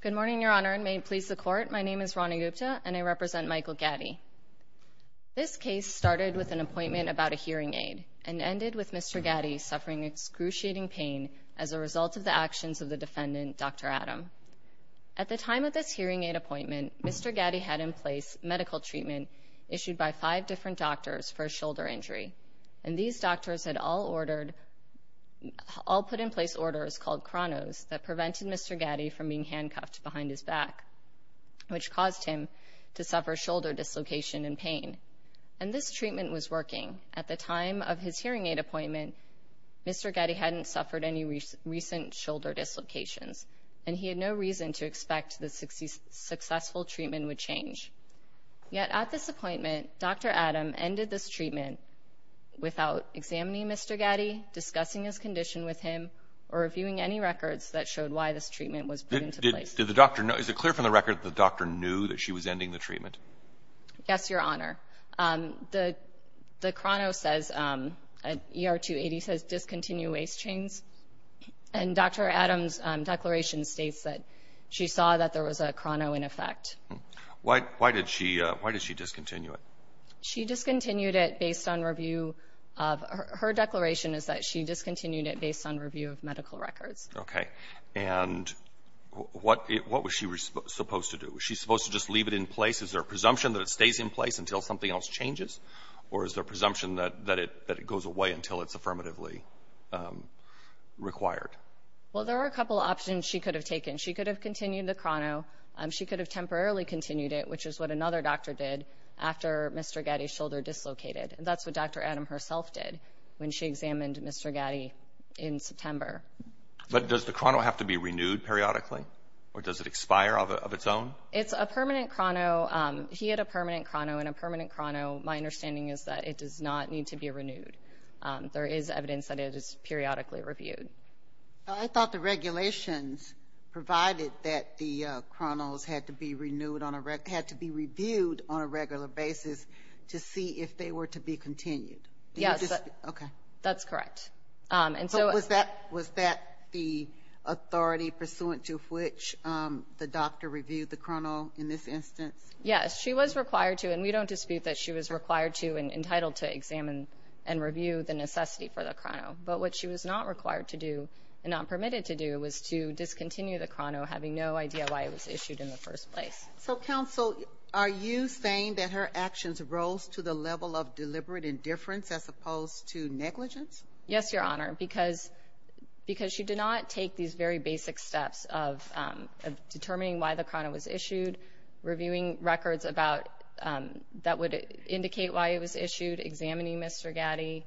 Good morning, Your Honor, and may it please the Court, my name is Rani Gupta, and I represent Michael Gaddy. This case started with an appointment about a hearing aid, and ended with Mr. Gaddy suffering excruciating pain as a result of the actions of the defendant, Dr. Adam. At the time of this hearing aid appointment, Mr. Gaddy had in place medical treatment issued by five different doctors for a shoulder injury, and these doctors had all put in place orders called Cronos that prevented Mr. Gaddy from being handcuffed behind his back, which caused him to suffer shoulder dislocation and pain, and this treatment was working. At the time of his hearing aid appointment, Mr. Gaddy hadn't suffered any recent shoulder dislocations, and he had no reason to expect the successful treatment would change. Yet at this appointment, Dr. Adam ended this treatment without examining Mr. Gaddy, discussing his condition with him, or reviewing any records that showed why this treatment was put into place. Did the doctor know, is it clear from the record that the doctor knew that she was ending the treatment? Yes, Your Honor. The Cronos says, ER 280 says discontinue waist chains, and Dr. Adam's declaration states that she saw that there was a Crono in effect. Why did she discontinue it? She discontinued it based on review of, her declaration is that she discontinued it based on review of medical records. Okay. And what was she supposed to do? Was she supposed to just leave it in place? Is there a presumption that it stays in place until something else changes, or is there a presumption that it goes away until it's affirmatively required? Well, there are a couple options she could have taken. She could have continued the Crono. She could have temporarily continued it, which is what another doctor did after Mr. Gaddy's shoulder dislocated. And that's what Dr. Adam herself did when she examined Mr. Gaddy in September. But does the Crono have to be renewed periodically, or does it expire of its own? It's a permanent Crono. He had a permanent Crono, and a permanent Crono, my understanding is that it does not need to be renewed. There is evidence that it is periodically reviewed. I thought the regulations provided that the Cronos had to be reviewed on a regular basis to see if they were to be continued. Yes. Okay. That's correct. And so was that the authority pursuant to which the doctor reviewed the Crono in this instance? Yes, she was required to, and we don't dispute that she was required to and entitled to examine and review the necessity for the Crono. But what she was not required to do and not permitted to do was to discontinue the Crono having no idea why it was issued in the first place. So counsel, are you saying that her actions rose to the level of deliberate indifference as opposed to negligence? Yes, Your Honor, because she did not take these very basic steps of determining why the Crono was issued, reviewing records that would indicate why it was issued, examining Mr. Gatti,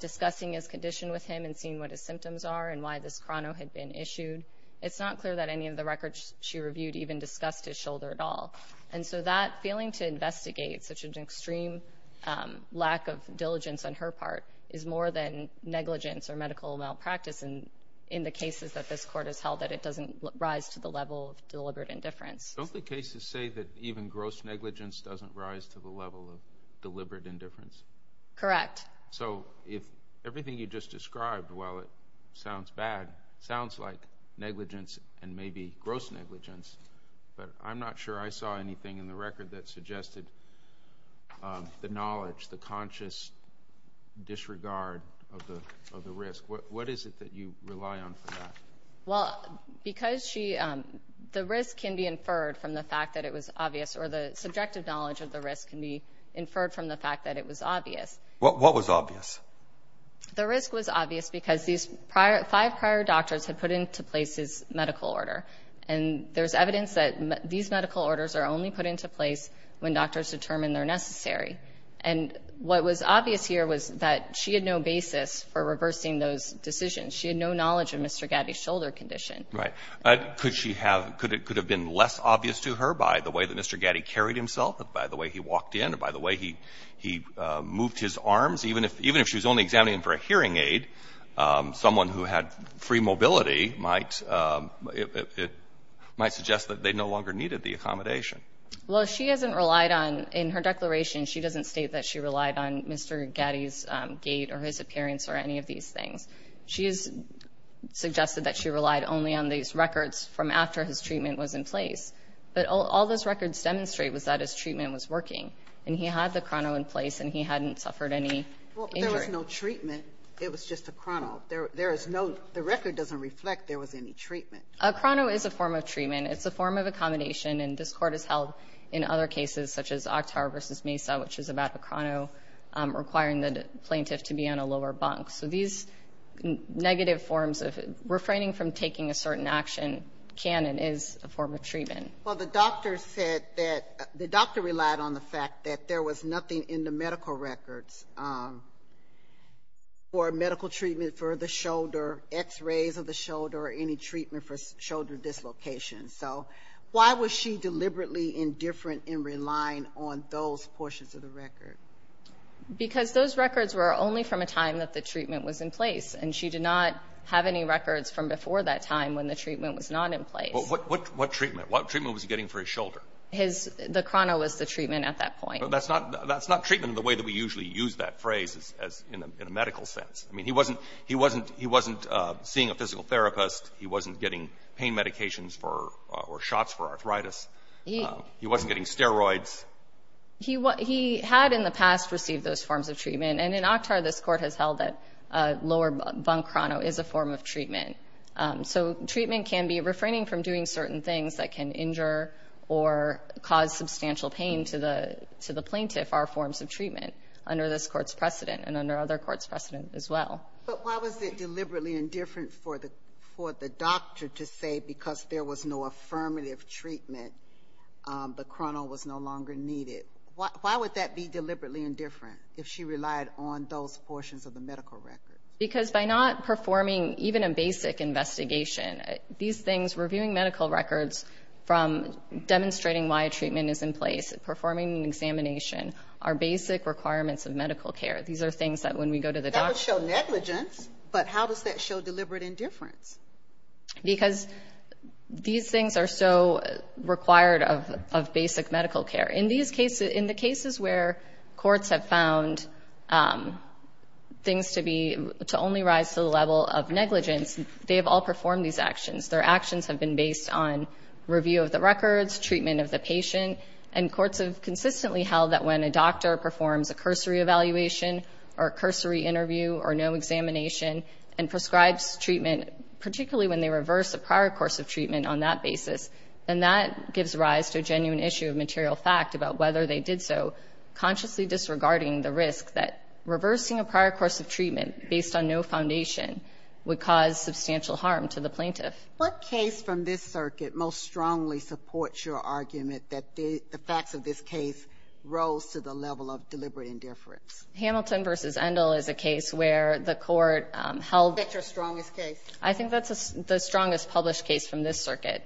discussing his condition with him and seeing what his symptoms are and why this Crono had been issued. It's not clear that any of the records she reviewed even discussed his shoulder at all. And so that failing to investigate such an extreme lack of diligence on her part is more than negligence or medical malpractice in the cases that this Court has held that it doesn't rise to the level of deliberate indifference. Don't the cases say that even gross negligence doesn't rise to the level of deliberate indifference? Correct. So if everything you just described, while it sounds bad, sounds like negligence and maybe gross negligence, but I'm not sure I saw anything in the record that suggested the knowledge, the conscious disregard of the risk. What is it that you rely on for that? Well, because the risk can be inferred from the fact that it was obvious or the subjective knowledge of the risk can be inferred from the fact that it was obvious. What was obvious? The risk was obvious because these five prior doctors had put into place his medical order. And there's evidence that these medical orders are only put into place when doctors determine they're necessary. And what was obvious here was that she had no basis for reversing those decisions. She had no knowledge of Mr. Gatti's shoulder condition. Right. Could she have been less obvious to her by the way that Mr. Gatti carried himself and by the way he walked in and by the way he moved his arms? Even if she was only examining him for a hearing aid, someone who had free mobility might suggest that they no longer needed the accommodation. Well, she hasn't relied on, in her declaration, she doesn't state that she relied on Mr. Gatti's gait or his appearance or any of these things. She has suggested that she relied only on these records from after his treatment was in place. But all those records demonstrate was that his treatment was working. And he had the chrono in place and he hadn't suffered any injury. Well, but there was no treatment. It was just a chrono. There is no the record doesn't reflect there was any treatment. A chrono is a form of treatment. It's a form of accommodation. And this Court has held in other cases such as Oktar v. Mesa, which is about a chrono requiring the plaintiff to be on a lower bunk. So these negative forms of refraining from taking a certain action can and is a form of treatment. Well, the doctor said that the doctor relied on the fact that there was nothing in the medical records for medical treatment for the shoulder, x-rays of the shoulder, or any treatment for shoulder dislocation. So why was she deliberately indifferent in relying on those portions of the record? Because those records were only from a time that the treatment was in place. And she did not have any records from before that time when the treatment was not in place. What treatment? What treatment was he getting for his shoulder? The chrono was the treatment at that point. But that's not treatment in the way that we usually use that phrase in a medical sense. I mean, he wasn't seeing a physical therapist. He wasn't getting pain medications or shots for arthritis. He wasn't getting steroids. He had in the past received those forms of treatment. And in Oktar, this Court has held that a lower bunk chrono is a form of treatment. So treatment can be refraining from doing certain things that can injure or cause substantial pain to the plaintiff are forms of treatment under this Court's precedent and under other Courts' precedent as well. But why was it deliberately indifferent for the doctor to say because there was no affirmative treatment, the chrono was no longer needed? Why would that be deliberately indifferent if she relied on those portions of the medical records? Because by not performing even a basic investigation, these things, reviewing medical records from demonstrating why a treatment is in place, performing an examination, are basic requirements of medical care. These are things that when we go to the doctor... That would show negligence, but how does that show deliberate indifference? Because these things are so required of basic medical care. In the cases where Courts have found things to only rise to the level of negligence, they have all performed these actions. Their actions have been based on review of the records, treatment of the patient. And Courts have consistently held that when a doctor performs a cursory evaluation or a cursory interview or no examination and prescribes treatment, particularly when they reverse the prior course of treatment on that basis, then that gives rise to a genuine issue of material fact about whether they did so, consciously disregarding the risk that reversing a prior course of treatment based on no foundation would cause substantial harm to the plaintiff. What case from this circuit most strongly supports your argument that the facts of this case rose to the level of deliberate indifference? Hamilton v. Endel is a case where the Court held... Which is your strongest case? I think that's the strongest published case from this circuit.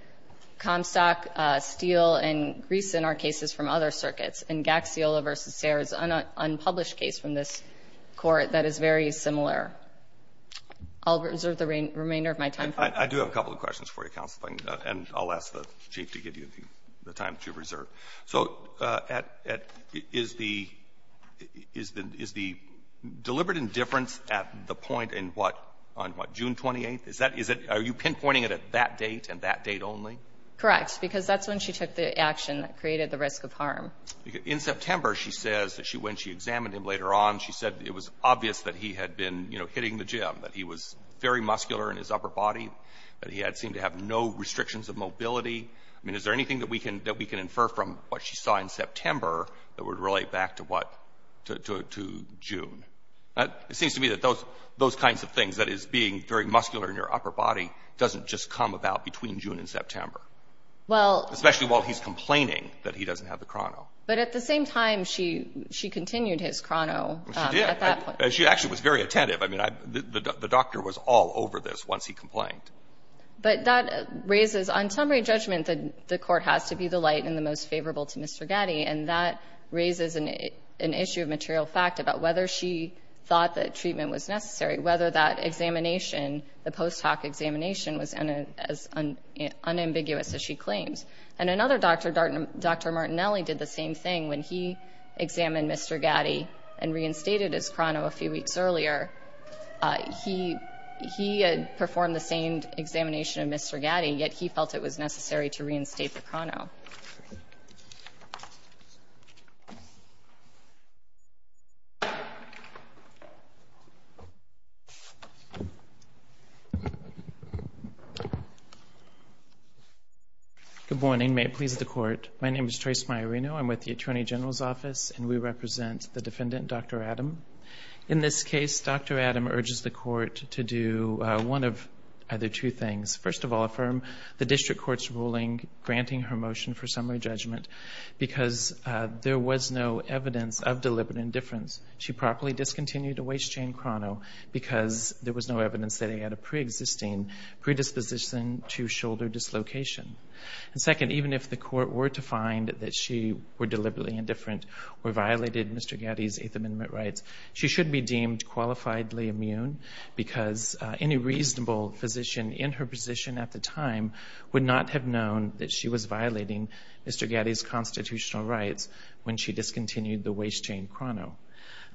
Comstock, Steele, and Griesen are cases from other circuits. And Gaxiola v. Sayre is an unpublished case from this Court that is very similar. I'll reserve the remainder of my time. I do have a couple of questions for you, Counsel. And I'll ask the Chief to give you the time that you've reserved. So is the deliberate indifference at the point in what, on what, June 28th? Is that, is it, are you pinpointing it at that date and that date only? Correct, because that's when she took the action that created the risk of harm. In September, she says that she, when she examined him later on, she said it was obvious that he had been, you know, hitting the gym, that he was very muscular in his upper body, that he had seemed to have no restrictions of mobility. I mean, is there anything that we can, that we can infer from what she saw in September that would relate back to what, to June? It seems to me that those, those kinds of things, that is, being very muscular in your upper body, doesn't just come about between June and September. Well — Especially while he's complaining that he doesn't have the chrono. But at the same time, she, she continued his chrono at that point. She did. She actually was very attentive. I mean, I, the doctor was all over this once he complained. But that raises, on summary judgment, the Court has to be the light and the most favorable to Mr. Gatti, and that raises an issue of material fact about whether she thought that treatment was necessary, whether that examination, the post hoc examination, was as unambiguous as she claims. And another doctor, Dr. Martinelli, did the same thing when he examined Mr. Gatti and reinstated his chrono a few weeks earlier. He had performed the same examination of Mr. Gatti, yet he felt it was necessary to reinstate the chrono. Good morning. May it please the Court. My name is Trace Maiorino. I'm with the Attorney General's Office, and we represent the defendant, Dr. Adam. In this case, Dr. Adam urges the Court to do one of either two things. First of all, affirm the district court's ruling granting her motion for summary judgment because there was no evidence of deliberate indifference. She properly discontinued a waist-chain chrono because there was no evidence that he had a preexisting predisposition to shoulder dislocation. And second, even if the Court were to find that she were deliberately indifferent or violated Mr. Gatti's Eighth Amendment rights, she should be deemed qualifiably immune because any reasonable physician in her position at the time would not have known that she was violating Mr. Gatti's constitutional rights when she discontinued the waist-chain chrono.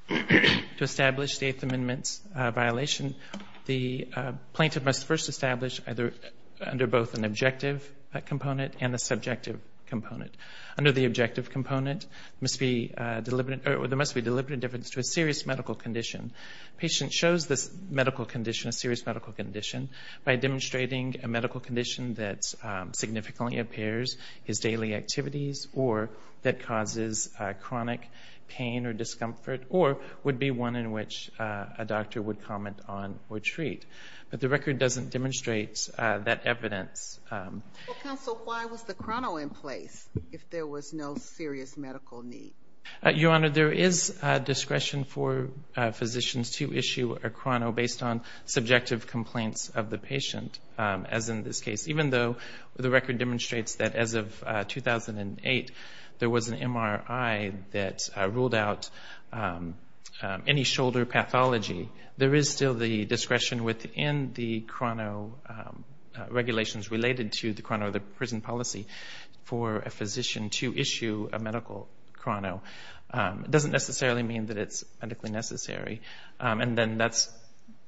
To establish the Eighth Amendment's violation, the plaintiff must first establish either under both an objective component and a subjective component. Under the objective component, there must be deliberate indifference to a serious medical condition. A patient shows this medical condition, a serious medical condition, by demonstrating a medical condition that significantly impairs his daily activities or that causes chronic pain or discomfort or would be one in which a doctor would comment on or treat. But the record doesn't demonstrate that evidence. Well, counsel, why was the chrono in place if there was no serious medical need? Your Honor, there is discretion for physicians to issue a chrono based on subjective complaints of the patient, as in this case. Even though the record demonstrates that as of 2008, there was an MRI that ruled out any shoulder pathology, there is still the discretion within the chrono regulations related to the chrono of the prison policy for a physician to issue a medical chrono. It doesn't necessarily mean that it's medically necessary. And then that's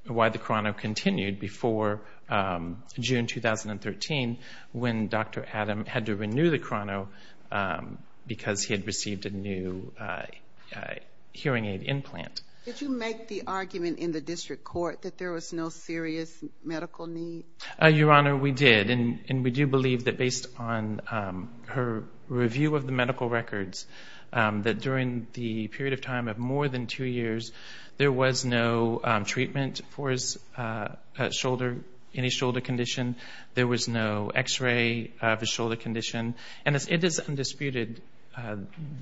why the chrono continued before June 2013 when Dr. Adam had to renew the chrono because he had received a new hearing aid implant. Did you make the argument in the district court that there was no serious medical need? Your Honor, we did. And we do believe that based on her review of the medical records, that during the period of time of more than two years, there was no treatment for his shoulder, any shoulder condition, there was no X-ray of his shoulder condition. And it is undisputed,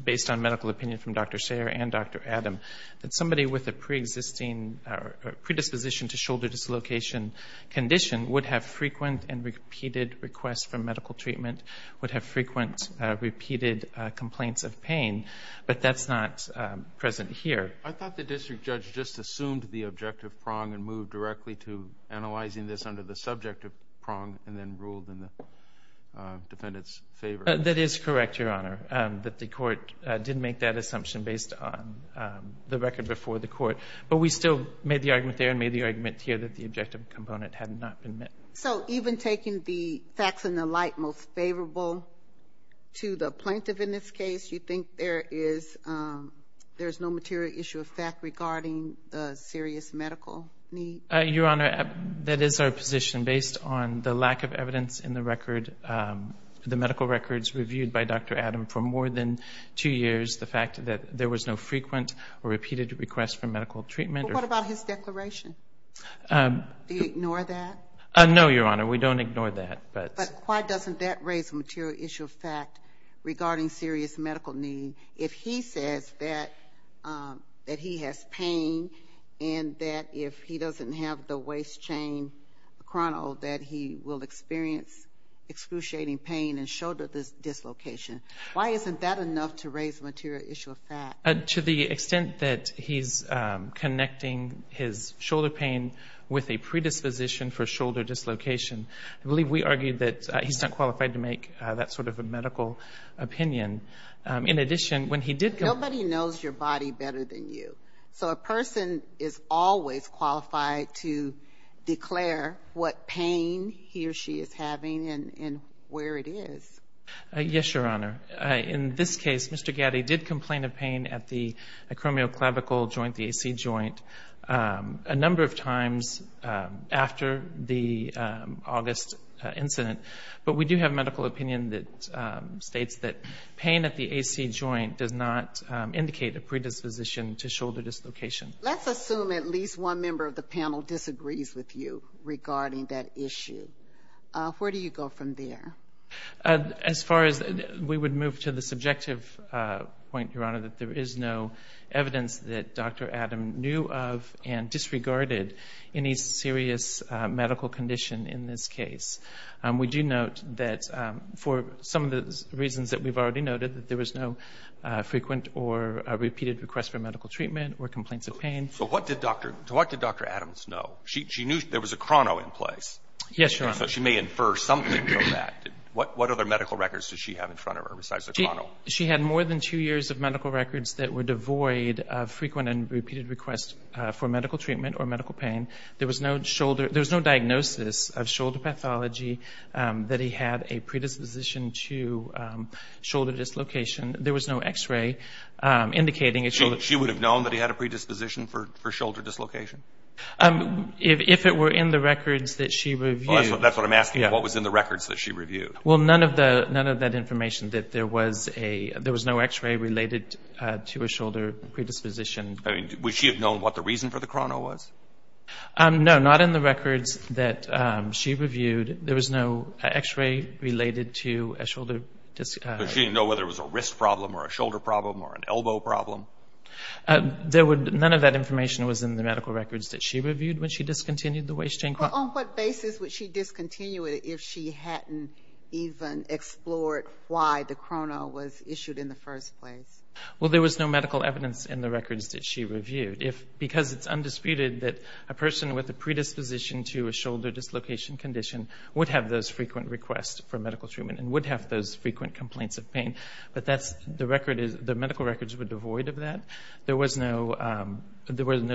based on medical opinion from Dr. Sayre and Dr. Adam, that somebody with a predisposition to shoulder dislocation condition would have frequent and repeated requests for medical treatment, would have frequent, repeated complaints of pain. But that's not present here. I thought the district judge just assumed the objective prong and moved directly to analyzing this under the subjective prong and then ruled in the defendant's favor. That is correct, Your Honor, that the court did make that assumption based on the record before the court. But we still made the argument there and made the argument here that the objective component had not been met. So even taking the facts in the light most favorable to the plaintiff in this case, you think there is no material issue of fact regarding the serious medical need? Your Honor, that is our position. Based on the lack of evidence in the record, the medical records reviewed by Dr. Adam for more than two years, the fact that there was no frequent or repeated request for medical treatment. But what about his declaration? Do you ignore that? No, Your Honor, we don't ignore that. But why doesn't that raise a material issue of fact regarding serious medical need if he says that he has pain and that if he doesn't have the waist chain chrono that he will experience excruciating pain and shoulder dislocation? Why isn't that enough to raise a material issue of fact? To the extent that he's connecting his shoulder pain with a predisposition for shoulder dislocation. I believe we argued that he's not qualified to make that sort of a medical opinion. In addition, when he did... Nobody knows your body better than you. So a person is always qualified to declare what pain he or she is having and where it is. Yes, Your Honor. In this case, Mr. Gatti did complain of pain at the acromioclavical joint, the AC joint, a number of times after the August incident. But we do have medical opinion that states that pain at the AC joint does not indicate a predisposition to shoulder dislocation. Let's assume at least one member of the panel disagrees with you regarding that issue. Where do you go from there? As far as... We would move to the subjective point, Your Honor, that there is no evidence that Dr. Adam knew of and disregarded any serious medical condition in this case. We do note that for some of the reasons that we've already noted, that there was no frequent or repeated request for medical treatment or complaints of pain. So what did Dr. Adams know? She knew there was a chrono in place. Yes, Your Honor. So she may infer something from that. What other medical records does she have in front of her besides the chrono? She had more than two years of medical records that were devoid of frequent and repeated requests for medical treatment or medical pain. There was no diagnosis of shoulder pathology that he had a predisposition to shoulder dislocation. There was no X-ray indicating... She would have known that he had a predisposition for shoulder dislocation? If it were in the records that she reviewed... That's what I'm asking. What was in the records that she reviewed? Well, none of that information, that there was no X-ray related to a shoulder predisposition. I mean, would she have known what the reason for the chrono was? No, not in the records that she reviewed. There was no X-ray related to a shoulder... So she didn't know whether it was a wrist problem or a shoulder problem or an elbow problem? None of that information was in the medical records that she reviewed when she discontinued the waist-chain chrono. On what basis would she discontinue it if she hadn't even explored why the chrono was issued in the first place? Well, there was no medical evidence in the records that she reviewed. Because it's undisputed that a person with a predisposition to a shoulder dislocation condition would have those frequent requests for medical treatment and would have those medical records were devoid of that. There was no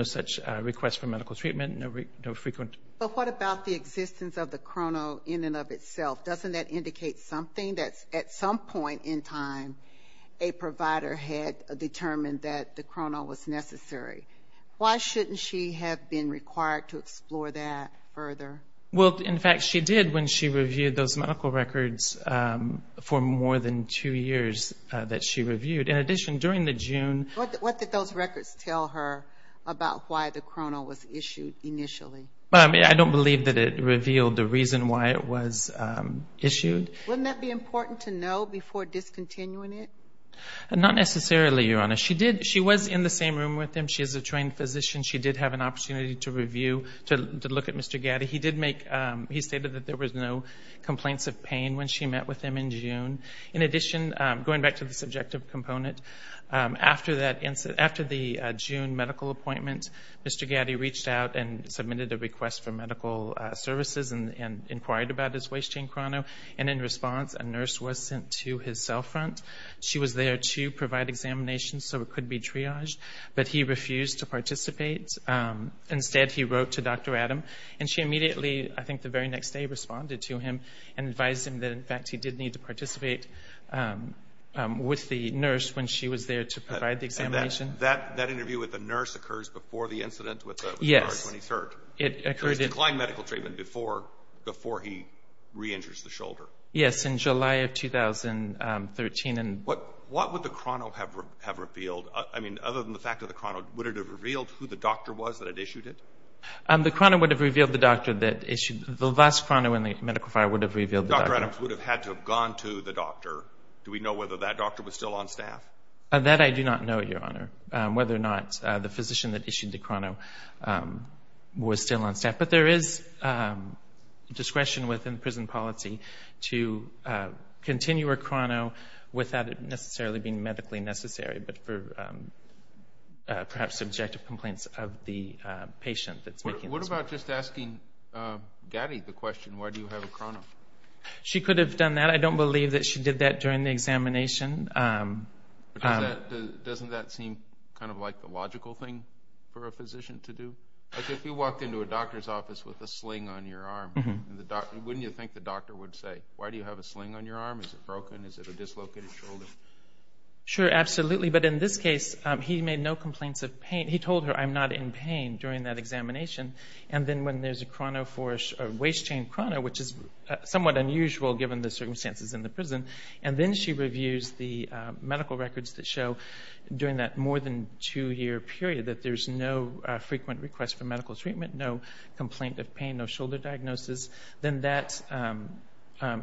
such request for medical treatment, no frequent... But what about the existence of the chrono in and of itself? Doesn't that indicate something that at some point in time a provider had determined that the chrono was necessary? Why shouldn't she have been required to explore that further? Well, in fact, she did when she reviewed those medical records for more than two years that she reviewed. In addition, during the June... What did those records tell her about why the chrono was issued initially? Well, I mean, I don't believe that it revealed the reason why it was issued. Wouldn't that be important to know before discontinuing it? Not necessarily, Your Honor. She did. She was in the same room with him. She is a trained physician. She did have an opportunity to review, to look at Mr. Gatti. He did make... He stated that there was no complaints of pain when she met with him in June. In addition, going back to the subjective component, after the June medical appointment, Mr. Gatti reached out and submitted a request for medical services and inquired about his waist-chain chrono. And in response, a nurse was sent to his cell front. She was there to provide examinations so it could be triaged, but he refused to participate. Instead, he wrote to Dr. Adam, and she immediately, I think the very next day, responded to him and advised him that, in fact, he did need to participate with the nurse when she was there to provide the examination. That interview with the nurse occurs before the incident with the... Yes. ...when he's hurt. It occurred... It was declined medical treatment before he re-injures the shoulder. Yes, in July of 2013. What would the chrono have revealed? I mean, other than the fact of the chrono, would it have revealed who the doctor was that had issued it? The chrono would have revealed the doctor that issued... The last chrono in the medical file would have revealed the doctor. Dr. Adams would have had to have gone to the doctor. Do we know whether that doctor was still on staff? That I do not know, Your Honor, whether or not the physician that issued the chrono was still on staff. But there is discretion within prison policy to continue a chrono without it necessarily being medically necessary, but for perhaps subjective complaints of the patient that's making... What about just asking Gaddy the question, why do you have a chrono? She could have done that. I don't believe that she did that during the examination. Doesn't that seem kind of like the logical thing for a physician to do? Like if you walked into a doctor's office with a sling on your arm, wouldn't you think the doctor would say, why do you have a sling on your arm? Is it broken? Is it a dislocated shoulder? Sure, absolutely. But in this case, he made no complaints of pain. He told her, I'm not in pain during that examination. And then when there's a waste chain chrono, which is somewhat unusual given the circumstances in the prison, and then she reviews the medical records that show during that more than two year period that there's no frequent request for medical treatment, no complaint of pain, no shoulder diagnosis, then that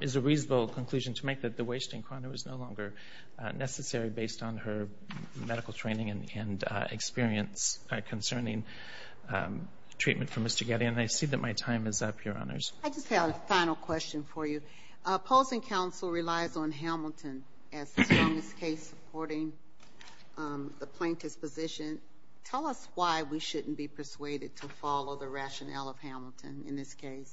is a reasonable conclusion to make that the waste chain chrono is no longer necessary based on her medical training and experience concerning treatment from Mr. Getty. And I see that my time is up, Your Honors. I just have a final question for you. Posing counsel relies on Hamilton as the strongest case supporting the plaintiff's position. Tell us why we shouldn't be persuaded to follow the rationale of Hamilton in this case.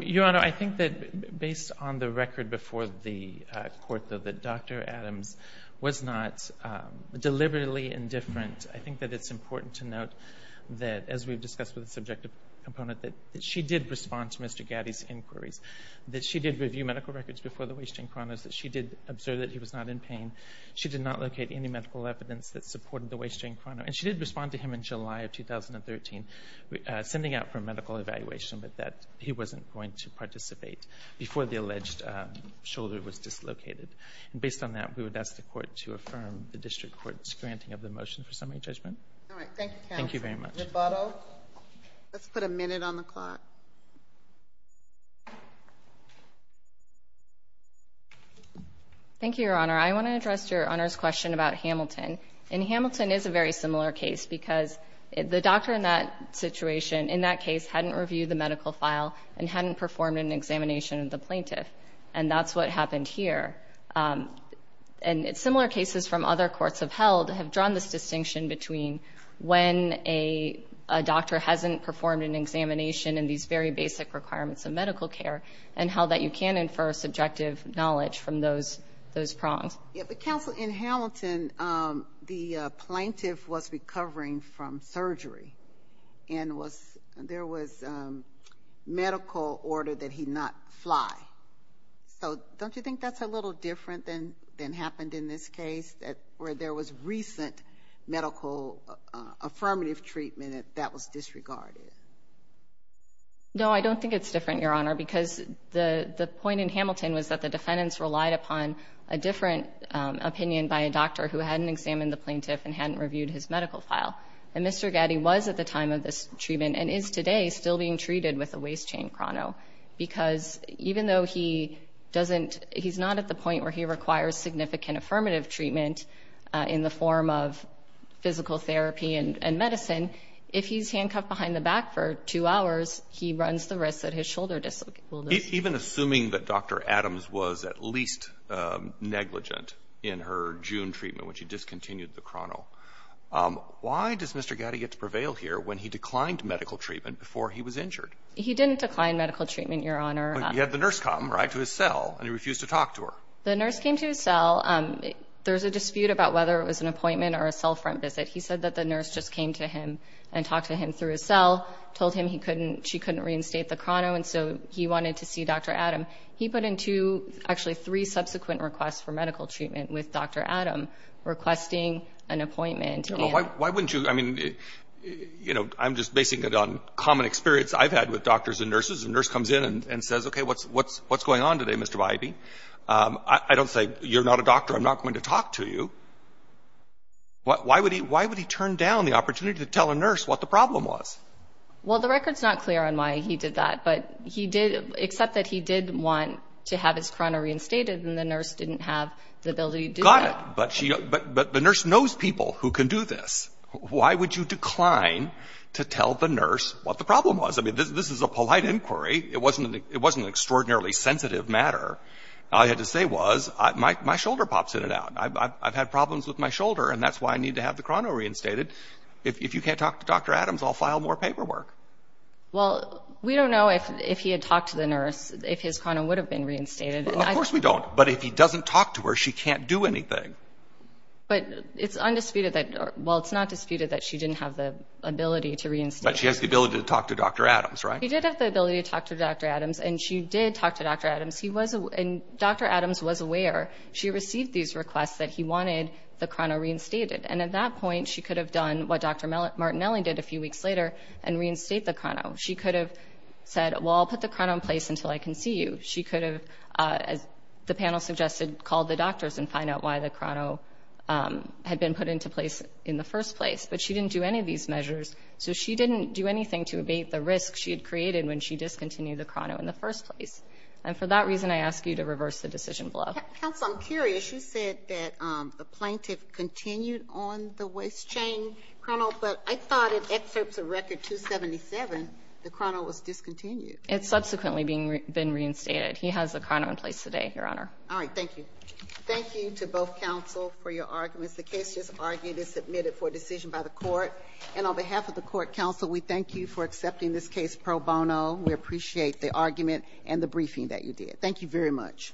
Your Honor, I think that based on the record before the court, though, that Dr. Adams was not deliberately indifferent. I think that it's important to note that, as we've discussed with the subjective component, that she did respond to Mr. Getty's inquiries, that she did review medical records before the waste chain chronos, that she did observe that he was not in pain. She did not locate any medical evidence that supported the waste chain chrono. And she did respond to him in July of 2013, sending out for a medical evaluation, but that he wasn't going to participate before the alleged shoulder was dislocated. Based on that, we would ask the court to affirm the district court's granting of the motion for summary judgment. All right. Thank you, counsel. Thank you very much. Rebuttal? Let's put a minute on the clock. Thank you, Your Honor. I want to address Your Honor's question about Hamilton. And Hamilton is a very similar case, because the doctor in that situation, in that case, hadn't reviewed the medical file and hadn't performed an examination of the plaintiff. And that's what happened here. And similar cases from other courts have held, have drawn this distinction between when a doctor hasn't performed an examination and these very basic requirements of medical care and how that you can infer subjective knowledge from those prongs. But, counsel, in Hamilton, the plaintiff was recovering from surgery and there was medical order that he not fly. So don't you think that's a little different than happened in this case, where there was recent medical affirmative treatment that was disregarded? No, I don't think it's different, Your Honor, because the point in Hamilton was that the opinion by a doctor who hadn't examined the plaintiff and hadn't reviewed his medical file. And Mr. Gatti was at the time of this treatment and is today still being treated with a waist chain chrono, because even though he doesn't, he's not at the point where he requires significant affirmative treatment in the form of physical therapy and medicine, if he's handcuffed behind the back for two hours, he runs the risk that his shoulder dislocate. Even assuming that Dr. Adams was at least negligent in her June treatment when she discontinued the chrono, why does Mr. Gatti get to prevail here when he declined medical treatment before he was injured? He didn't decline medical treatment, Your Honor. You had the nurse come, right, to his cell and he refused to talk to her. The nurse came to his cell. There's a dispute about whether it was an appointment or a cell front visit. He said that the nurse just came to him and talked to him through his cell, told him he wanted to see Dr. Adam. He put in two, actually three, subsequent requests for medical treatment with Dr. Adam, requesting an appointment. Why wouldn't you? I mean, you know, I'm just basing it on common experience I've had with doctors and nurses. The nurse comes in and says, OK, what's what's what's going on today, Mr. Bybee? I don't say you're not a doctor. I'm not going to talk to you. Why would he why would he turn down the opportunity to tell a nurse what the problem was? Well, the record's not clear on why he did that, but he did accept that he did want to have his chrono reinstated and the nurse didn't have the ability to. Got it. But she but the nurse knows people who can do this. Why would you decline to tell the nurse what the problem was? I mean, this is a polite inquiry. It wasn't it wasn't extraordinarily sensitive matter. I had to say was my shoulder pops in and out. I've had problems with my shoulder and that's why I need to have the chrono reinstated. If you can't talk to Dr. Adams, I'll file more paperwork. Well, we don't know if if he had talked to the nurse, if his chrono would have been reinstated. Of course we don't. But if he doesn't talk to her, she can't do anything. But it's undisputed that while it's not disputed that she didn't have the ability to reinstate. But she has the ability to talk to Dr. Adams, right? He did have the ability to talk to Dr. Adams and she did talk to Dr. Adams. He was and Dr. Adams was aware she received these requests that he wanted the chrono reinstated. And at that point, she could have done what Dr. Martinelli did a few weeks later and reinstate the chrono. She could have said, well, I'll put the chrono in place until I can see you. She could have, as the panel suggested, called the doctors and find out why the chrono had been put into place in the first place. But she didn't do any of these measures. So she didn't do anything to abate the risk she had created when she discontinued the chrono in the first place. And for that reason, I ask you to reverse the decision. Counsel, I'm curious. You said that the plaintiff continued on the waist chain chrono, but I thought it excerpts a record 277. The chrono was discontinued. It's subsequently been reinstated. He has a chrono in place today, Your Honor. All right. Thank you. Thank you to both counsel for your arguments. The case is argued and submitted for decision by the court. And on behalf of the court counsel, we thank you for accepting this case pro bono. We appreciate the argument and the briefing that you did. Thank you very much.